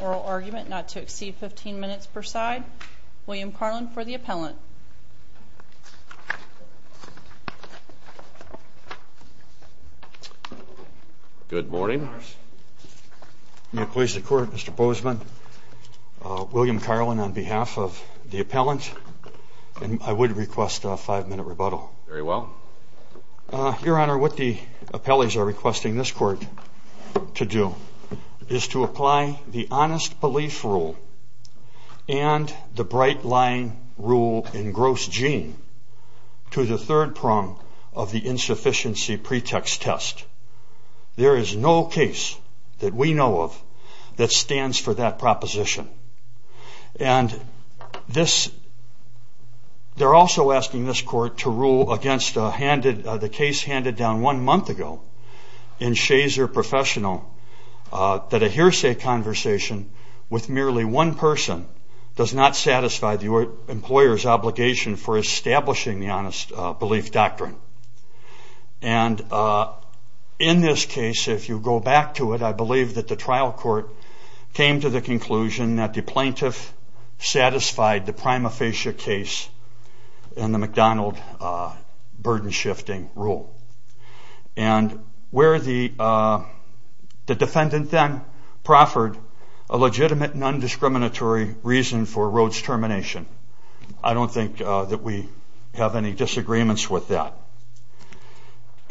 Oral Argument not to exceed 15 minutes per side. William Carlin for the appellant. Good morning. May it please the Court, Mr. Bozeman. William Carlin on behalf of the appellant, I request a five-minute rebuttal. Very well. Your Honor, what the appellees are requesting this court to do is to apply the honest belief rule and the bright-line rule in gross gene to the third prong of the insufficiency pretext test. There is no case that we know of that stands for that proposition. And this, they're also asking this court to rule against the case handed down one month ago in Shazer Professional that a hearsay conversation with merely one person does not satisfy the employer's obligation for establishing the honest belief doctrine. And in this case, if you go back to it, I believe that the trial court came to the conclusion that the plaintiff satisfied the prima facie case in the McDonald burden-shifting rule. And where the defendant then proffered a legitimate non-discriminatory reason for Rhoades' termination. I don't think that we have any disagreements with that.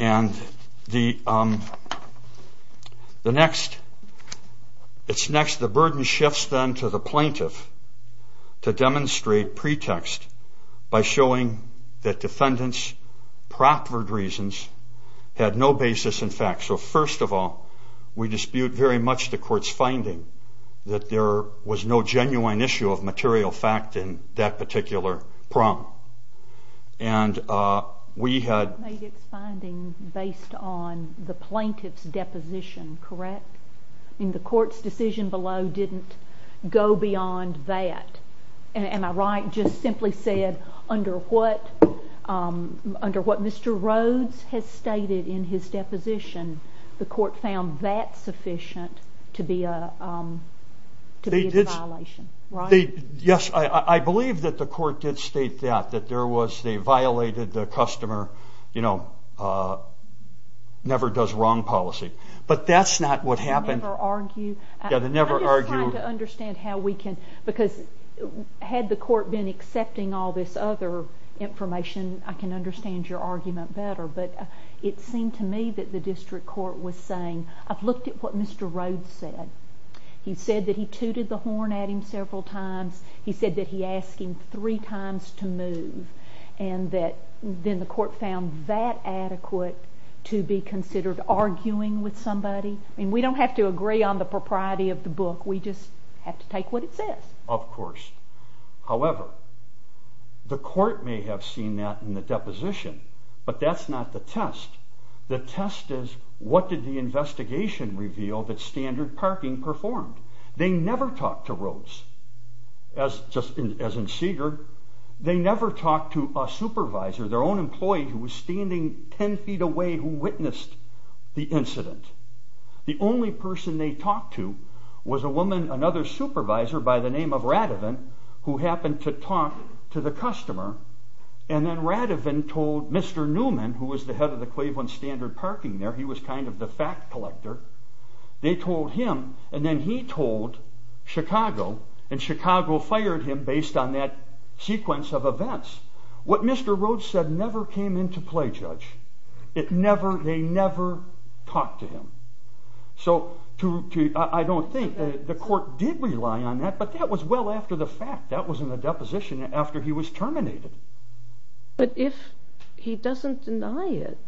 And it's next, the burden shifts then to the plaintiff to demonstrate pretext by showing that defendant's proffered reasons had no basis in fact. So first of all, we dispute very much the court's finding that there was no genuine issue of material fact in that particular prong. And we had... You made its finding based on the plaintiff's deposition, correct? I mean, the court's decision below didn't go beyond that. Am I right? Just simply said, under what Mr. Rhoades has stated in his deposition, the court found that sufficient to be a violation, right? Yes, I believe that the court did state that. That there was, they violated the customer, you know, never does wrong policy. But that's not what happened. I'm just trying to understand how we can, because had the court been accepting all this other information, I can understand your argument better. But it seemed to me that the district court was saying, I've looked at what Mr. Rhoades said. He said that he tooted the horn at him several times. He said that he asked him three times to move. And that, then the court found that adequate to be considered arguing with somebody. I mean, we don't have to agree on the propriety of the book. We just have to take what it says. Of course. However, the court may have seen that in the deposition, but that's not the test. The test is, what did the investigation reveal that Standard Parking performed? They never talked to Rhoades, as in Seeger. They never talked to a supervisor, their own employee who was standing 10 feet away who witnessed the incident. The only person they talked to was a woman, another supervisor by the name of Radovan, who happened to talk to the customer, and then Radovan told Mr. Newman, who was the head of the Claveland Standard Parking there, he was kind of the fact collector, they told him, and then he told Chicago, and Chicago fired him based on that sequence of events. What Mr. Rhoades said never came into play, Judge. It never, they never talked to him. So, I don't think, the court did rely on that, but that was well after the fact. That was in the deposition after he was terminated. But if he doesn't deny it?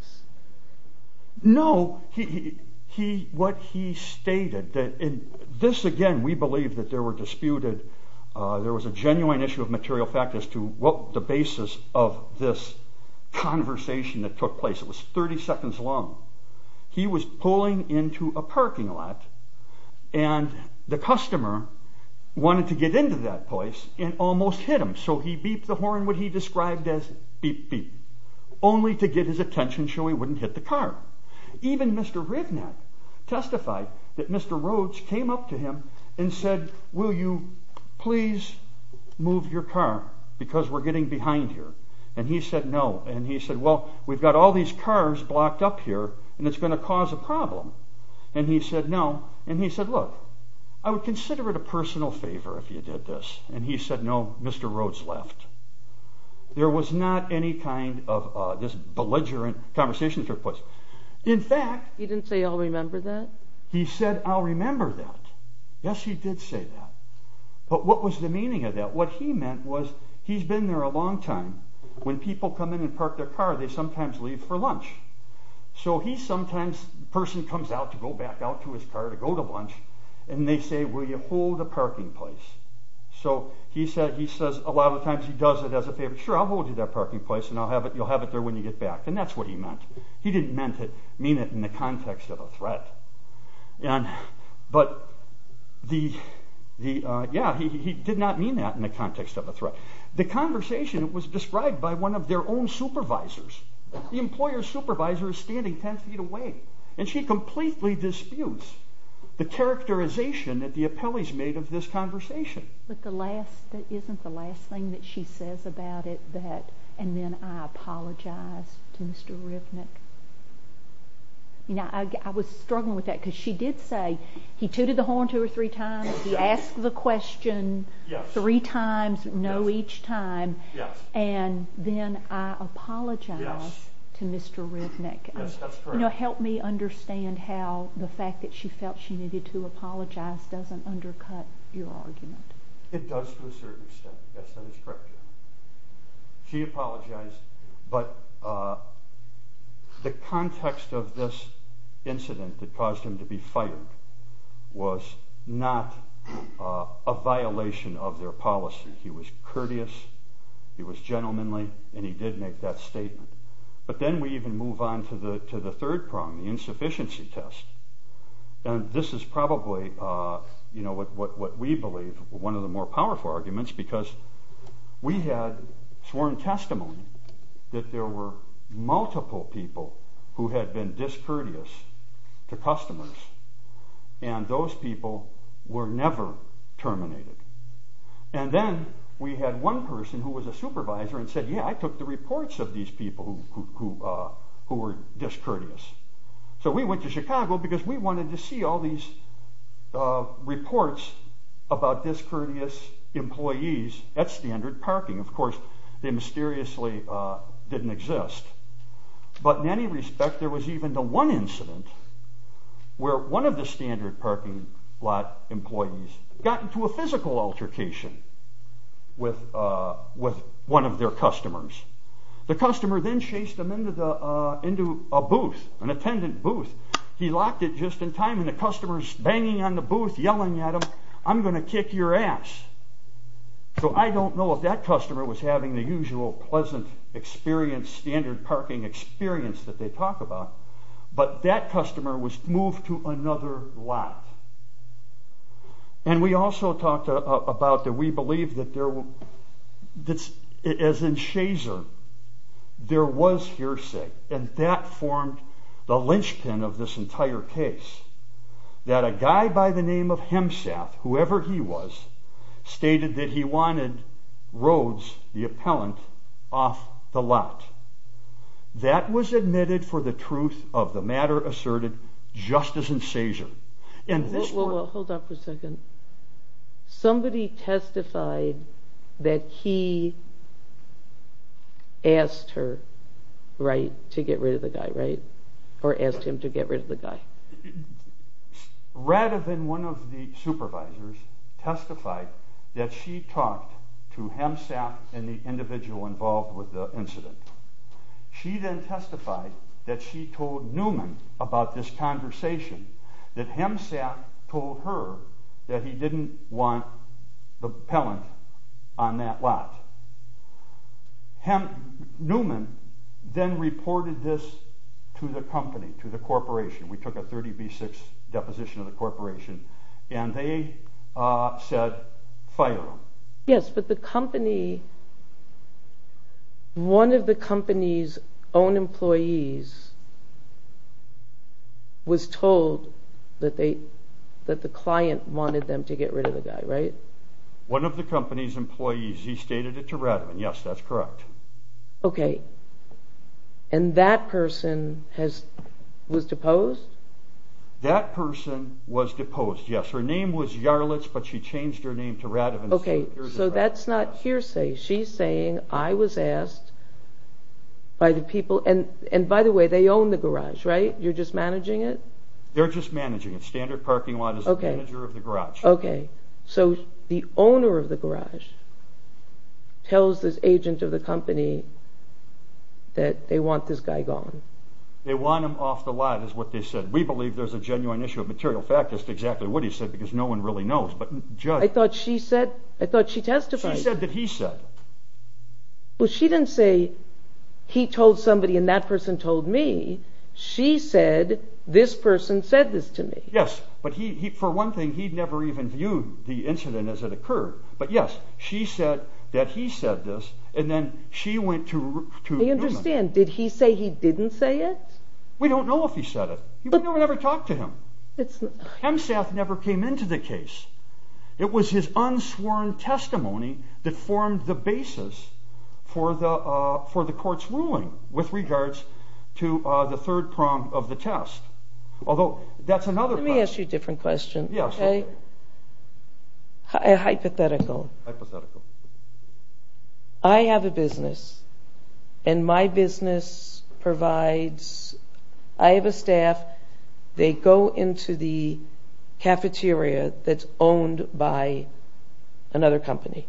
No. He, what he stated, and this again, we believe that there were disputed, there was a genuine issue of material fact as to what the basis of this conversation that took place. It was 30 seconds long. He was pulling into a parking lot and the customer wanted to get into that place and almost hit him, so he beeped the horn, what he described as beep beep, only to get his attention so he wouldn't hit the car. Even Mr. Rivnett testified that Mr. Rhoades came up to him and said, will you please move your car because we're getting behind here, and he said no, and he said well, we've got all these cars blocked up here and it's going to cause a problem, and he said no, and he said look, I would consider it a personal favor if you did this, and he said no, Mr. Rhoades left. There was not any kind of this belligerent conversation that took place. In fact... He didn't say I'll remember that? He said I'll remember that. Yes, he did say that. But what was the meaning of that? What he meant was he's been there a long time. When people come in and park their car, they sometimes leave for lunch. So he sometimes, the person comes out to go back out to his car to go to lunch, and they say will you hold the parking place. So he says a lot of times he does it as a favor. Sure, I'll hold you that parking place and you'll have it there when you get back, and that's what he meant. He didn't mean it in the context of a threat. But yeah, he did not mean that in the context of a threat. The conversation was described by one of their own supervisors. The employer's supervisor is standing ten feet away, and she completely disputes the characterization that the appellees made of this conversation. But isn't the last thing that she says about it that, and then I apologize to Mr. Rivnick? I was struggling with that because she did say he tooted the horn two or three times, he asked the question three times, no each time, and then I apologize to Mr. Rivnick. Yes, that's correct. Help me understand how the fact that she felt she needed to apologize doesn't undercut your argument. It does to a certain extent, yes, that is correct. She apologized, but the context of this incident that caused him to be fired was not a violation of their policy. He was courteous, he was gentlemanly, and he did make that statement. But then we even move on to the third problem, the insufficiency test. This is probably what we believe is one of the more powerful arguments, because we had sworn testimony that there were multiple people who had been discourteous to customers, and those people were never terminated. And then we had one person who was a supervisor and said, yeah, I took the reports of these people who were discourteous. So we went to Chicago because we wanted to see all these reports about discourteous employees at standard parking. Of course, they mysteriously didn't exist. But in any respect, there was even the one incident where one of the standard parking lot employees got into a physical altercation with one of their customers. The customer then chased him into a booth, an attendant booth. He locked it just in time, and the customer's banging on the booth, yelling at him, I'm going to kick your ass. So I don't know if that customer was having the usual pleasant experience, standard parking experience that they talk about, but that customer was moved to another lot. And we also talked about that we believe that as in Shazer, there was hearsay, and that formed the linchpin of this entire case. That a guy by the name of Hemsath, whoever he was, stated that he wanted Rhodes, the appellant, off the lot. That was admitted for the truth of the matter asserted just as in Shazer. Hold on for a second. Somebody testified that he asked her to get rid of the guy, right? Or asked him to get rid of the guy. Rather than one of the supervisors testify that she talked to Hemsath and the individual involved with the incident, she then testified that she told Newman about this conversation, that Hemsath told her that he didn't want the appellant on that lot. Newman then reported this to the company, to the corporation. We took a 30B6 deposition of the corporation, and they said, fire him. Yes, but the company, one of the company's own employees was told that the client wanted them to get rid of the guy, right? One of the company's employees, he stated it to Radovan, yes, that's correct. Okay, and that person was deposed? That person was deposed, yes. Her name was Yarlitz, but she changed her name to Radovan. Okay, so that's not hearsay. She's saying, I was asked by the people, and by the way, they own the garage, right? You're just managing it? They're just managing it. Standard parking lot is the manager of the garage. Okay, so the owner of the garage tells this agent of the company that they want this guy gone. They want him off the lot, is what they said. We believe there's a genuine issue of material fact. That's exactly what he said, because no one really knows. I thought she testified. She said that he said. Well, she didn't say, he told somebody and that person told me. She said, this person said this to me. Yes, but for one thing, he never even viewed the incident as it occurred. But yes, she said that he said this, and then she went to Newman. I understand. Did he say he didn't say it? We don't know if he said it. We never talked to him. Hemsath never came into the case. It was his unsworn testimony that formed the basis for the court's ruling with regards to the third prong of the test. Let me ask you a different question. Hypothetical. I have a business, and my business provides, I have a staff, they go into the cafeteria that's owned by another company.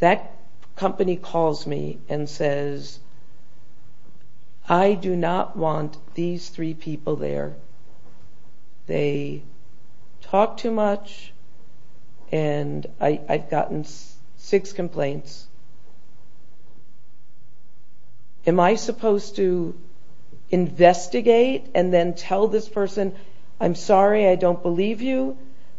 That company calls me and says, I do not want these three people there. They talk too much, and I've gotten six complaints. Am I supposed to investigate and then tell this person, I'm sorry, I don't believe you,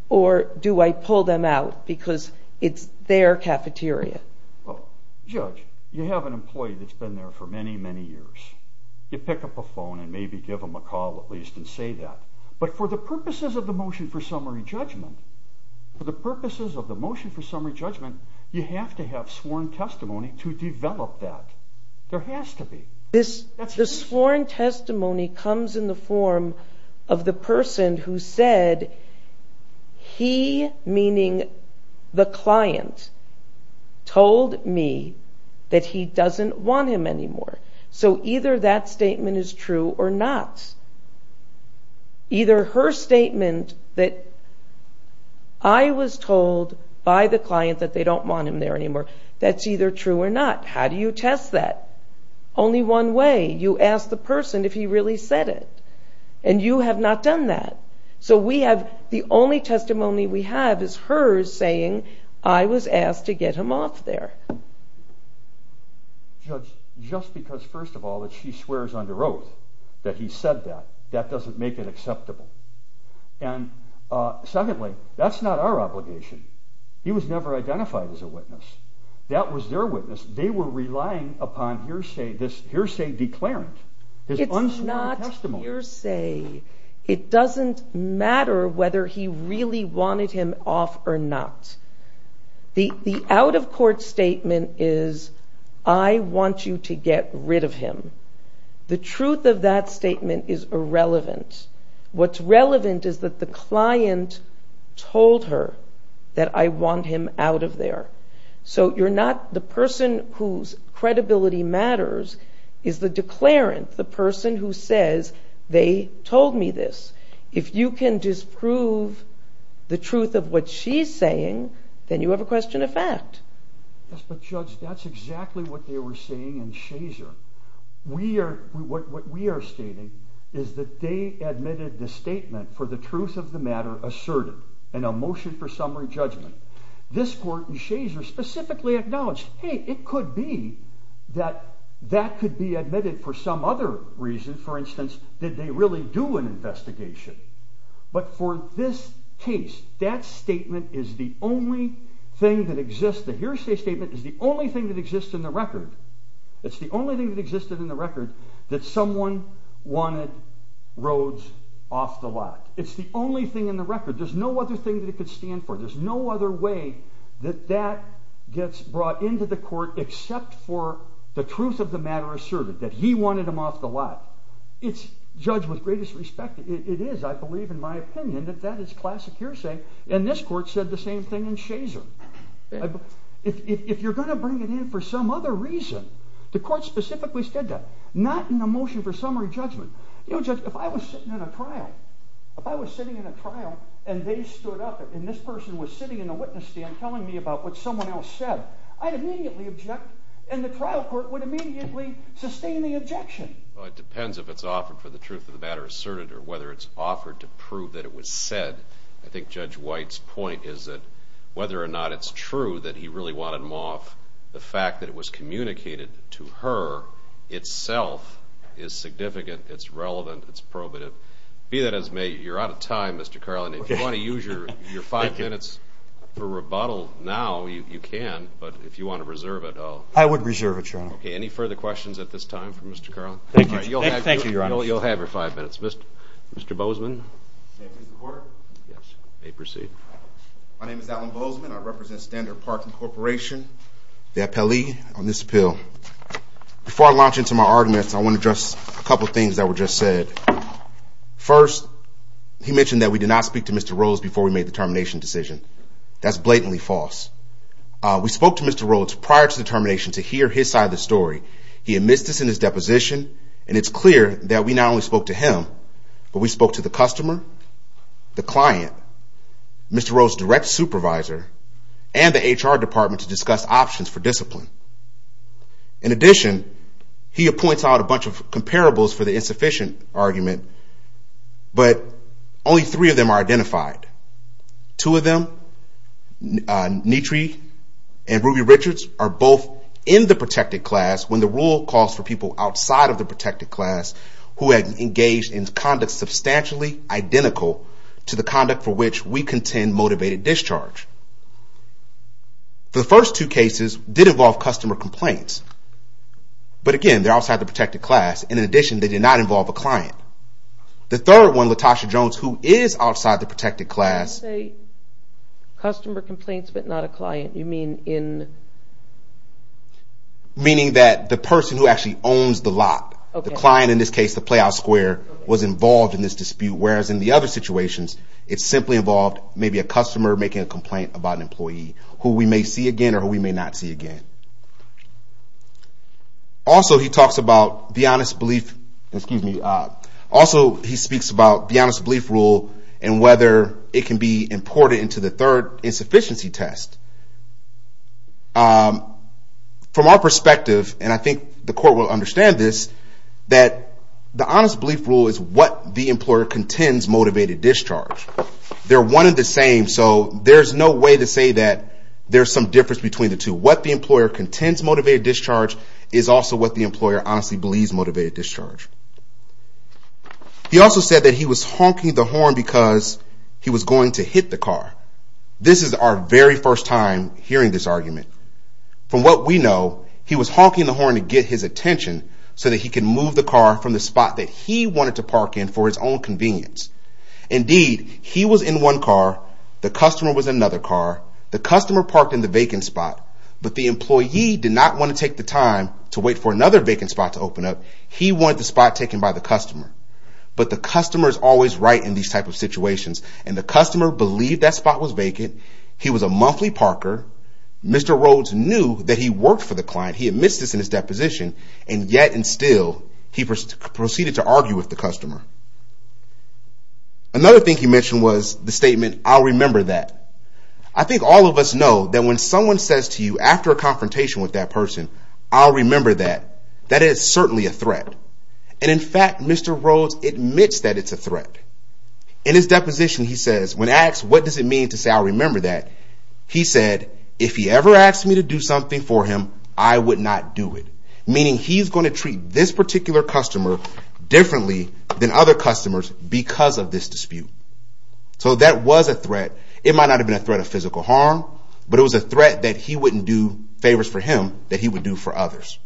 or do I pull them out because it's their cafeteria? Well, Judge, you have an employee that's been there for many, many years. You pick up a phone and maybe give them a call at least and say that. But for the purposes of the motion for summary judgment, you have to have sworn testimony to develop that. There has to be. This sworn testimony comes in the form of the person who said he, meaning the client, told me that he doesn't want him anymore. So either that statement is true or not. Either her statement that I was told by the client that they don't want him there anymore. That's either true or not. How do you test that? Only one way. You ask the person if he really said it. And you have not done that. So the only testimony we have is hers saying, I was asked to get him off there. Judge, just because first of all that she swears under oath that he said that, that doesn't make it acceptable. And secondly, that's not our obligation. He was never identified as a witness. That was their witness. They were relying upon hearsay, this hearsay declarant. It's not hearsay. It doesn't matter whether he really wanted him off or not. The out-of-court statement is, I want you to get rid of him. The truth of that statement is irrelevant. What's relevant is that the client told her that I want him out of there. So you're not, the person whose credibility matters is the declarant, the person who says they told me this. If you can disprove the truth of what she's saying, then you have a question of fact. Yes, but Judge, that's exactly what they were saying in Shazer. What we are stating is that they admitted the statement for the truth of the matter asserted in a motion for summary judgment. This court in Shazer specifically acknowledged, hey, it could be that that could be admitted for some other reason. For instance, did they really do an investigation? But for this case, that statement is the only thing that exists. The hearsay statement is the only thing that exists in the record. It's the only thing that existed in the record that someone wanted Rhodes off the lot. It's the only thing in the record. There's no other thing that it could stand for. There's no other way that that gets brought into the court except for the truth of the matter asserted, that he wanted him off the lot. It's judged with greatest respect. It is, I believe, in my opinion, that that is classic hearsay. And this court said the same thing in Shazer. If you're going to bring it in for some other reason, the court specifically said that. Not in the motion for summary judgment. You know, Judge, if I was sitting in a trial, if I was sitting in a trial and they stood up and this person was sitting in a witness stand telling me about what someone else said, I'd immediately object and the trial court would immediately sustain the objection. Well, it depends if it's offered for the truth of the matter asserted or whether it's offered to prove that it was said. I think Judge White's point is that whether or not it's true that he really wanted him off, the fact that it was communicated to her itself is significant, it's relevant, it's probative. Be that as may, you're out of time, Mr. Carlin. If you want to use your five minutes for rebuttal now, you can. But if you want to reserve it, I'll... I would reserve it, Your Honor. Okay, any further questions at this time for Mr. Carlin? Thank you, Your Honor. You'll have your five minutes. Mr. Bozeman. May I please report? Yes. You may proceed. My name is Alan Bozeman. I represent Standard Parking Corporation, the appellee on this appeal. Before I launch into my arguments, I want to address a couple of things that were just said. First, he mentioned that we did not speak to Mr. Rose before we made the termination decision. That's blatantly false. We spoke to Mr. Rose prior to the termination to hear his side of the story. He admits this in his deposition, and it's clear that we not only spoke to him, but we spoke to the customer, the client, Mr. Rose's direct supervisor, and the HR department to discuss options for discipline. In addition, he points out a bunch of comparables for the insufficient argument, but only three of them are identified. Two of them, Neetree and Ruby Richards, are both in the protected class when the rule calls for people outside of the protected class who have engaged in conduct substantially identical to the conduct for which we contend motivated discharge. The first two cases did involve customer complaints, but, again, they're outside the protected class. The third one, Latasha Jones, who is outside the protected class. Customer complaints, but not a client. You mean in... Meaning that the person who actually owns the lot, the client in this case, the play out square, was involved in this dispute, whereas in the other situations, it simply involved maybe a customer making a complaint about an employee who we may see again or who we may not see again. Also, he talks about the honest belief... Excuse me. Also, he speaks about the honest belief rule and whether it can be imported into the third insufficiency test. From our perspective, and I think the court will understand this, that the honest belief rule is what the employer contends motivated discharge. They're one and the same, so there's no way to say that there's some difference between the two. What the employer contends motivated discharge is also what the employer honestly believes motivated discharge. He also said that he was honking the horn because he was going to hit the car. This is our very first time hearing this argument. From what we know, he was honking the horn to get his attention so that he could move the car from the spot that he wanted to park in for his own convenience. Indeed, he was in one car, the customer was in another car, the customer parked in the vacant spot, but the employee did not want to take the time to wait for another vacant spot to open up. He wanted the spot taken by the customer. But the customer's always right in these type of situations, and the customer believed that spot was vacant. He was a monthly parker. Mr. Rhodes knew that he worked for the client. He admits this in his deposition, and yet and still, he proceeded to argue with the customer. Another thing he mentioned was the statement, I'll remember that. I think all of us know that when someone says to you after a confrontation with that person, I'll remember that, that is certainly a threat. And in fact, Mr. Rhodes admits that it's a threat. In his deposition, he says, when asked what does it mean to say I'll remember that, he said, if he ever asked me to do something for him, I would not do it. Meaning he's going to treat this particular customer differently than other customers because of this dispute. So that was a threat. It might not have been a threat of physical harm, but it was a threat that he wouldn't do favors for him that he would do for others.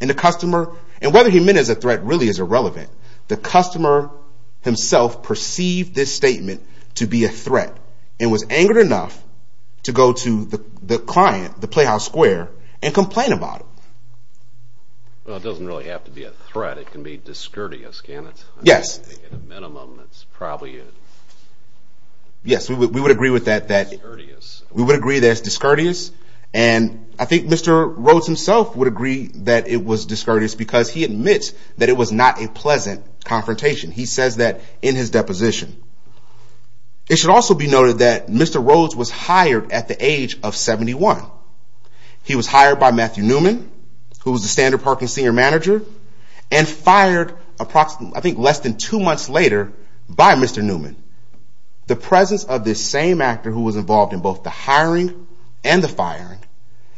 And the customer, and whether he meant it as a threat really is irrelevant. The customer himself perceived this statement to be a threat, and was angered enough to go to the client, the Playhouse Square, and complain about it. Well, it doesn't really have to be a threat. It can be discourteous, can it? Yes. At a minimum, it's probably a... Yes, we would agree with that, that we would agree that it's discourteous. And I think Mr. Rhodes himself would agree that it was discourteous because he admits that it was not a pleasant confrontation. He says that in his deposition. It should also be noted that Mr. Rhodes was hired at the age of 71. He was hired by Matthew Newman, who was the standard parking senior manager, and fired approximately, I think, less than two months later by Mr. Newman. The presence of this same actor who was involved in both the hiring and the firing,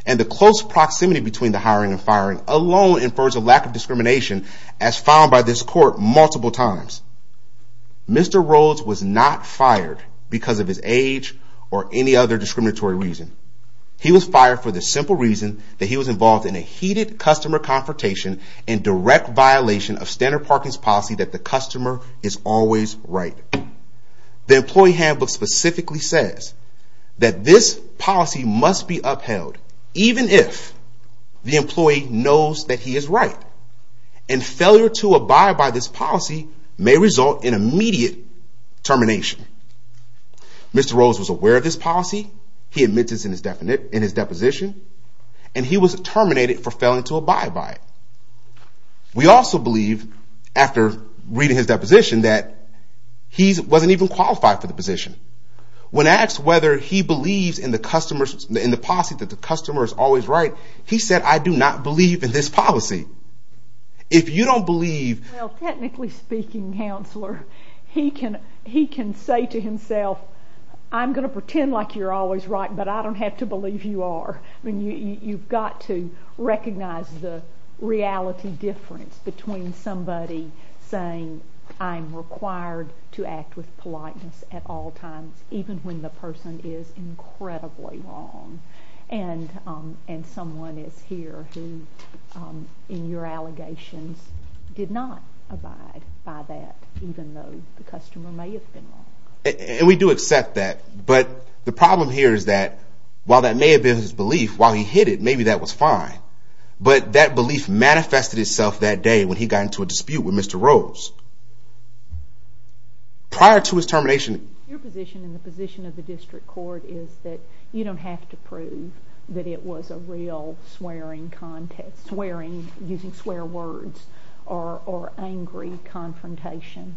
and the close proximity between the hiring and firing alone infers a lack of discrimination as found by this court multiple times. Mr. Rhodes was not fired because of his age or any other discriminatory reason. He was fired for the simple reason that he was involved in a heated customer confrontation and direct violation of standard parking's policy that the customer is always right. The employee handbook specifically says that this policy must be upheld even if the employee knows that he is right. And failure to abide by this policy may result in immediate termination. Mr. Rhodes was aware of this policy. He admits this in his deposition. And he was terminated for failing to abide by it. We also believe, after reading his deposition, that he wasn't even qualified for the position. When asked whether he believes in the policy that the customer is always right, he said, I do not believe in this policy. If you don't believe... Well, technically speaking, counselor, he can say to himself, I'm going to pretend like you're always right, but I don't have to believe you are. I mean, you've got to recognize the reality difference between somebody saying, I'm required to act with politeness at all times, even when the person is incredibly wrong, and someone is here who, in your allegations, did not abide by that, even though the customer may have been wrong. And we do accept that. But the problem here is that while that may have been his belief, while he hid it, maybe that was fine. But that belief manifested itself that day when he got into a dispute with Mr. Rhodes. Prior to his termination... Your position and the position of the district court is that you don't have to prove that it was a real swearing contest, using swear words, or angry confrontation,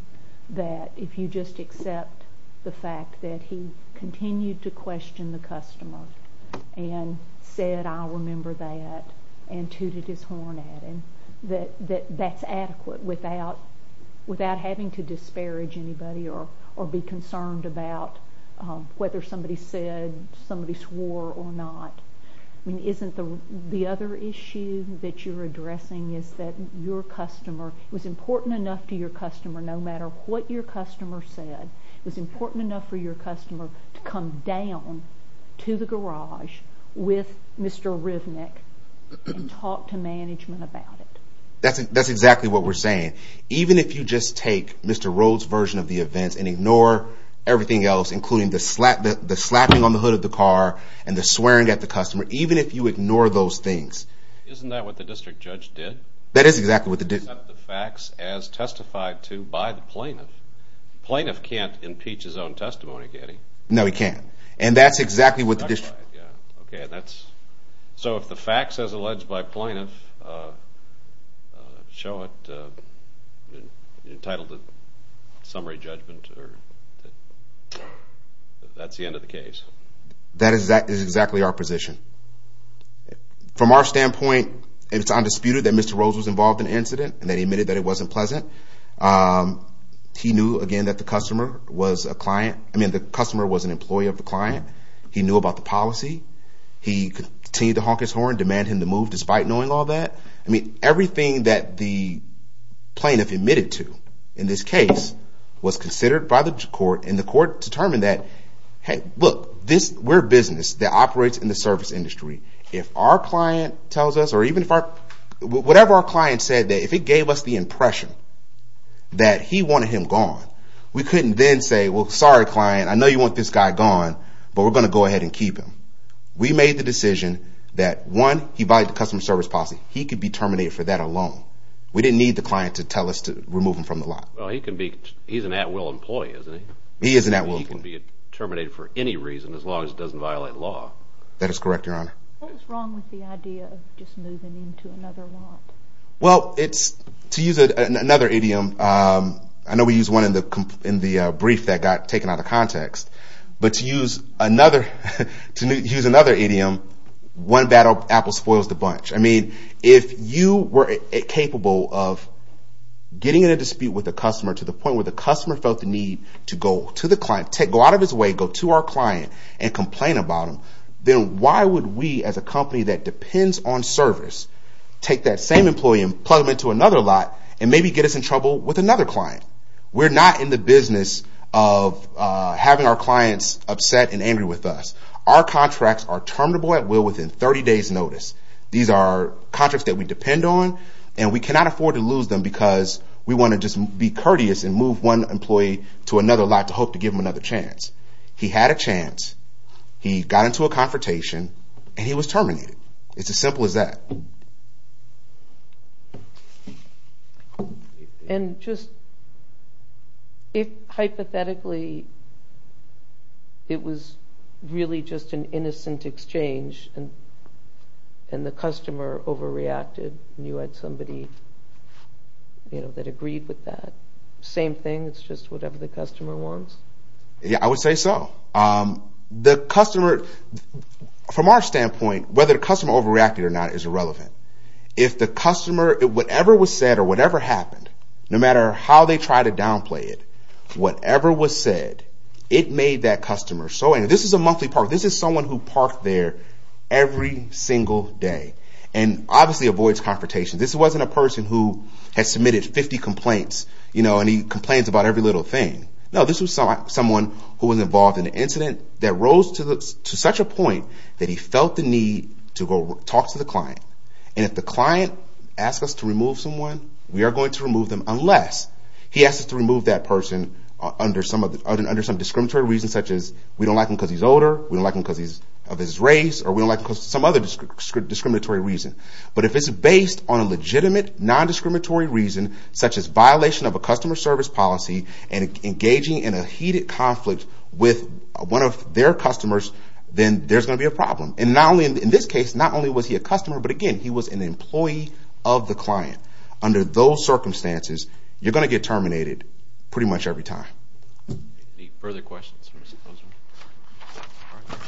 that if you just accept the fact that he continued to question the customer and said, I'll remember that, and tooted his horn at him, that that's adequate without having to disparage anybody or be concerned about whether somebody said, somebody swore or not. I mean, isn't the other issue that you're addressing is that your customer, it was important enough to your customer, no matter what your customer said, it was important enough for your customer to come down to the garage with Mr. Rivnick and talk to management about it. That's exactly what we're saying. Even if you just take Mr. Rhodes' version of the events and ignore everything else, including the slapping on the hood of the car and the swearing at the customer, even if you ignore those things... Isn't that what the district judge did? That is exactly what the district judge did. Accept the facts as testified to by the plaintiff. The plaintiff can't impeach his own testimony, can he? No, he can't. And that's exactly what the district judge did. Okay. So if the facts as alleged by plaintiff show it, you're entitled to summary judgment if that's the end of the case. That is exactly our position. From our standpoint, it's undisputed that Mr. Rhodes was involved in the incident and that he admitted that it wasn't pleasant. He knew, again, that the customer was an employee of the client. He knew about the policy. He continued to honk his horn, demand him to move despite knowing all that. I mean, everything that the plaintiff admitted to in this case was considered by the court, and the court determined that, hey, look, we're a business that operates in the service industry. If our client tells us or even if our client said that, if it gave us the impression that he wanted him gone, we couldn't then say, well, sorry, client, I know you want this guy gone, but we're going to go ahead and keep him. We made the decision that, one, he violated the customer service policy. He could be terminated for that alone. We didn't need the client to tell us to remove him from the lot. Well, he's an at-will employee, isn't he? He is an at-will employee. He can be terminated for any reason as long as it doesn't violate law. That is correct, Your Honor. What was wrong with the idea of just moving him to another lot? Well, to use another idiom, I know we used one in the brief that got taken out of context, but to use another idiom, one bad apple spoils the bunch. I mean, if you were capable of getting in a dispute with a customer to the point where the customer felt the need to go to the client, go out of his way, go to our client and complain about him, then why would we, as a company that depends on service, take that same employee and plug him into another lot and maybe get us in trouble with another client? We're not in the business of having our clients upset and angry with us. Our contracts are terminable at will within 30 days' notice. These are contracts that we depend on, and we cannot afford to lose them because we want to just be courteous and move one employee to another lot to hope to give him another chance. He had a chance. He got into a confrontation, and he was terminated. It's as simple as that. And just if, hypothetically, it was really just an innocent exchange and the customer overreacted and you had somebody that agreed with that, same thing? It's just whatever the customer wants? Yeah, I would say so. The customer, from our standpoint, whether the customer overreacted or not is irrelevant. If the customer, whatever was said or whatever happened, no matter how they try to downplay it, whatever was said, it made that customer so angry. This is a monthly park. This is someone who parked there every single day and obviously avoids confrontation. This wasn't a person who had submitted 50 complaints, and he complains about every little thing. No, this was someone who was involved in an incident that rose to such a point that he felt the need to go talk to the client. And if the client asks us to remove someone, we are going to remove them unless he asks us to remove that person under some discriminatory reasons, such as we don't like him because he's older, we don't like him because of his race, or we don't like him because of some other discriminatory reason. But if it's based on a legitimate, nondiscriminatory reason, such as violation of a customer service policy and engaging in a heated conflict with one of their customers, then there's going to be a problem. And not only in this case, not only was he a customer, but again, he was an employee of the client. Under those circumstances, you're going to get terminated pretty much every time. Any further questions?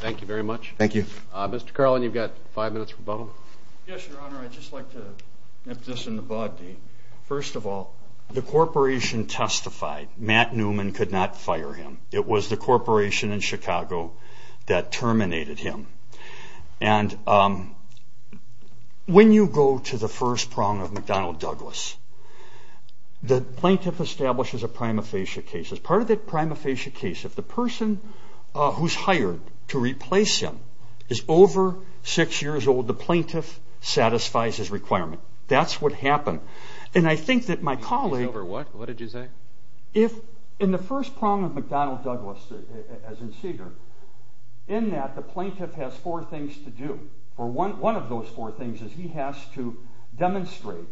Thank you very much. Thank you. Mr. Carlin, you've got five minutes for Bob. Yes, Your Honor. I'd just like to nip this in the bud. First of all, the corporation testified Matt Newman could not fire him. It was the corporation in Chicago that terminated him. And when you go to the first prong of McDonnell Douglas, the plaintiff establishes a prima facie case. As part of that prima facie case, if the person who's hired to replace him is over six years old, the plaintiff satisfies his requirement. That's what happened. And I think that my colleague... He's over what? What did you say? In the first prong of McDonnell Douglas, as in Seeger, in that the plaintiff has four things to do. One of those four things is he has to demonstrate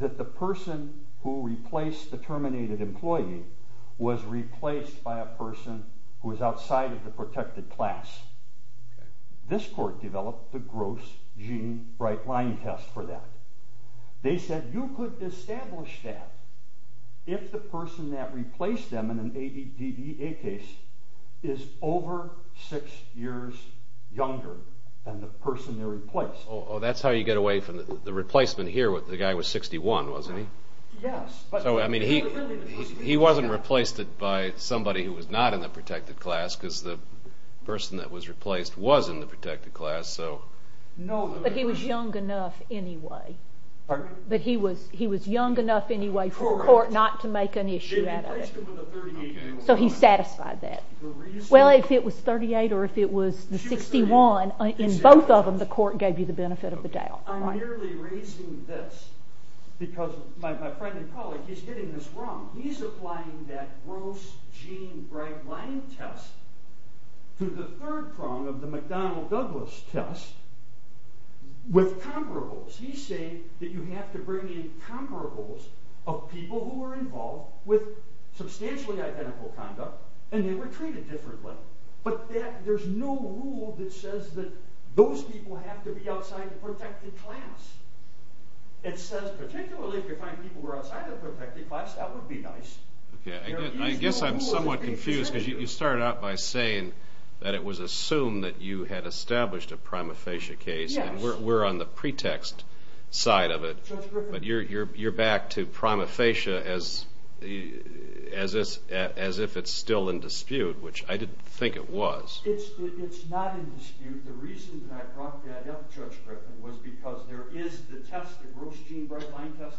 that the person who replaced the terminated employee was replaced by a person who was outside of the protected class. This court developed the Gross Gene Brightline test for that. They said you could establish that if the person that replaced them in an ABDBA case is over six years younger than the person they replaced. Oh, that's how you get away from the replacement here. The guy was 61, wasn't he? Yes. So, I mean, he wasn't replaced by somebody who was not in the protected class because the person that was replaced was in the protected class, so... But he was young enough anyway. Pardon? But he was young enough anyway for the court not to make an issue out of it. So he satisfied that. Well, if it was 38 or if it was the 61, in both of them, the court gave you the benefit of the doubt. I'm merely raising this because my friend and colleague, he's getting this wrong. He's applying that Gross Gene Brightline test to the third prong of the McDonnell-Douglas test with comparables. He's saying that you have to bring in comparables of people who were involved with substantially identical conduct and they were treated differently. But there's no rule that says that those people have to be outside the protected class. It says particularly if you find people who were outside of the protected class, that would be nice. I guess I'm somewhat confused because you started out by saying that it was assumed that you had established a prima facie case and we're on the pretext side of it. But you're back to prima facie as if it's still in dispute, which I didn't think it was. It's not in dispute. The reason that I brought that up, Judge Griffin, was because there is the test, the Gross Gene Brightline test.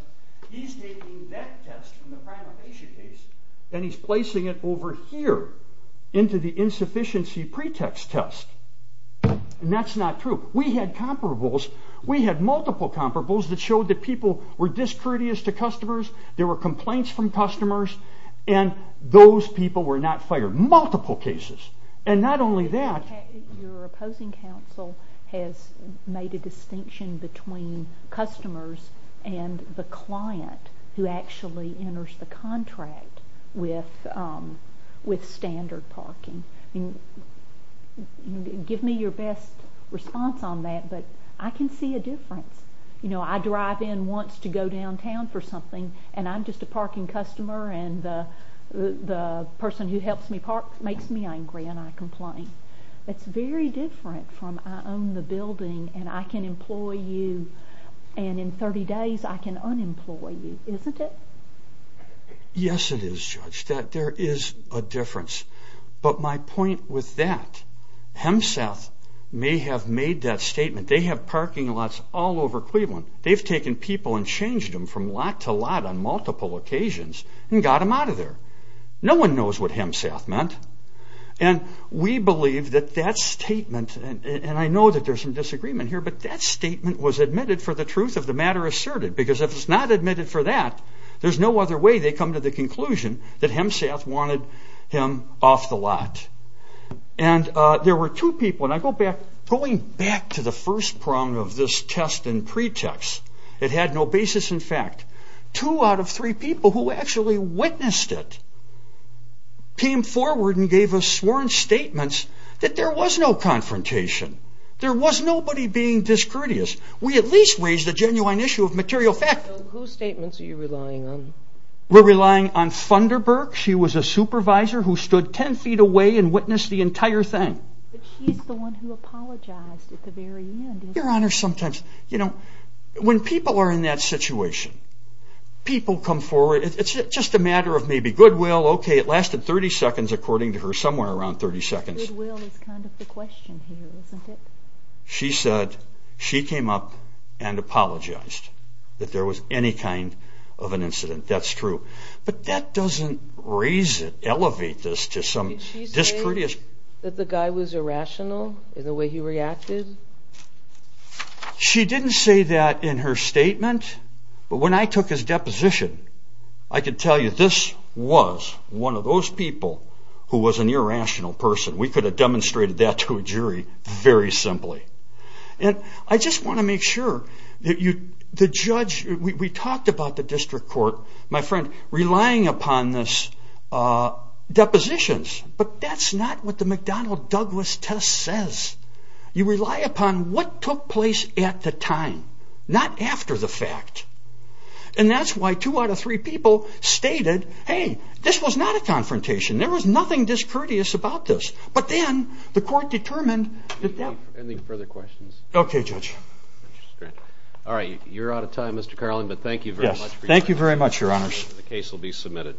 He's taking that test from the prima facie case and he's placing it over here into the insufficiency pretext test. And that's not true. We had comparables. We had multiple comparables that showed that people were discourteous to customers, there were complaints from customers, and those people were not fired. Multiple cases. Your opposing counsel has made a distinction between customers and the client who actually enters the contract with standard parking. Give me your best response on that, but I can see a difference. I drive in once to go downtown for something and I'm just a parking customer and the person who helps me park makes me angry and I complain. It's very different from I own the building and I can employ you and in 30 days I can unemploy you, isn't it? Yes, it is, Judge. There is a difference. But my point with that, HEMSATH may have made that statement. They have parking lots all over Cleveland. They've taken people and changed them from lot to lot on multiple occasions and got them out of there. No one knows what HEMSATH meant. And we believe that that statement, and I know that there's some disagreement here, but that statement was admitted for the truth of the matter asserted because if it's not admitted for that, there's no other way they come to the conclusion that HEMSATH wanted him off the lot. And there were two people, and going back to the first prong of this test and pretext, it had no basis in fact. Two out of three people who actually witnessed it came forward and gave us sworn statements that there was no confrontation. There was nobody being discourteous. We at least raised a genuine issue of material fact. So whose statements are you relying on? We're relying on Funderburk. She was a supervisor who stood 10 feet away and witnessed the entire thing. But she's the one who apologized at the very end. Your Honor, sometimes when people are in that situation, people come forward. It's just a matter of maybe goodwill. Okay, it lasted 30 seconds according to her, somewhere around 30 seconds. Goodwill is kind of the question here, isn't it? She said she came up and apologized that there was any kind of an incident. That's true. But that doesn't raise it, elevate this to some discourteous. Did she say that the guy was irrational in the way he reacted? She didn't say that in her statement. But when I took his deposition, I could tell you this was one of those people who was an irrational person. We could have demonstrated that to a jury very simply. And I just want to make sure that the judge, we talked about the district court. My friend, relying upon this depositions. But that's not what the McDonnell-Douglas test says. You rely upon what took place at the time, not after the fact. And that's why two out of three people stated, hey, this was not a confrontation. There was nothing discourteous about this. But then the court determined that that... Any further questions? Okay, Judge. All right, you're out of time, Mr. Carlin, but thank you very much for your time. Thank you very much, Your Honors. The case will be submitted.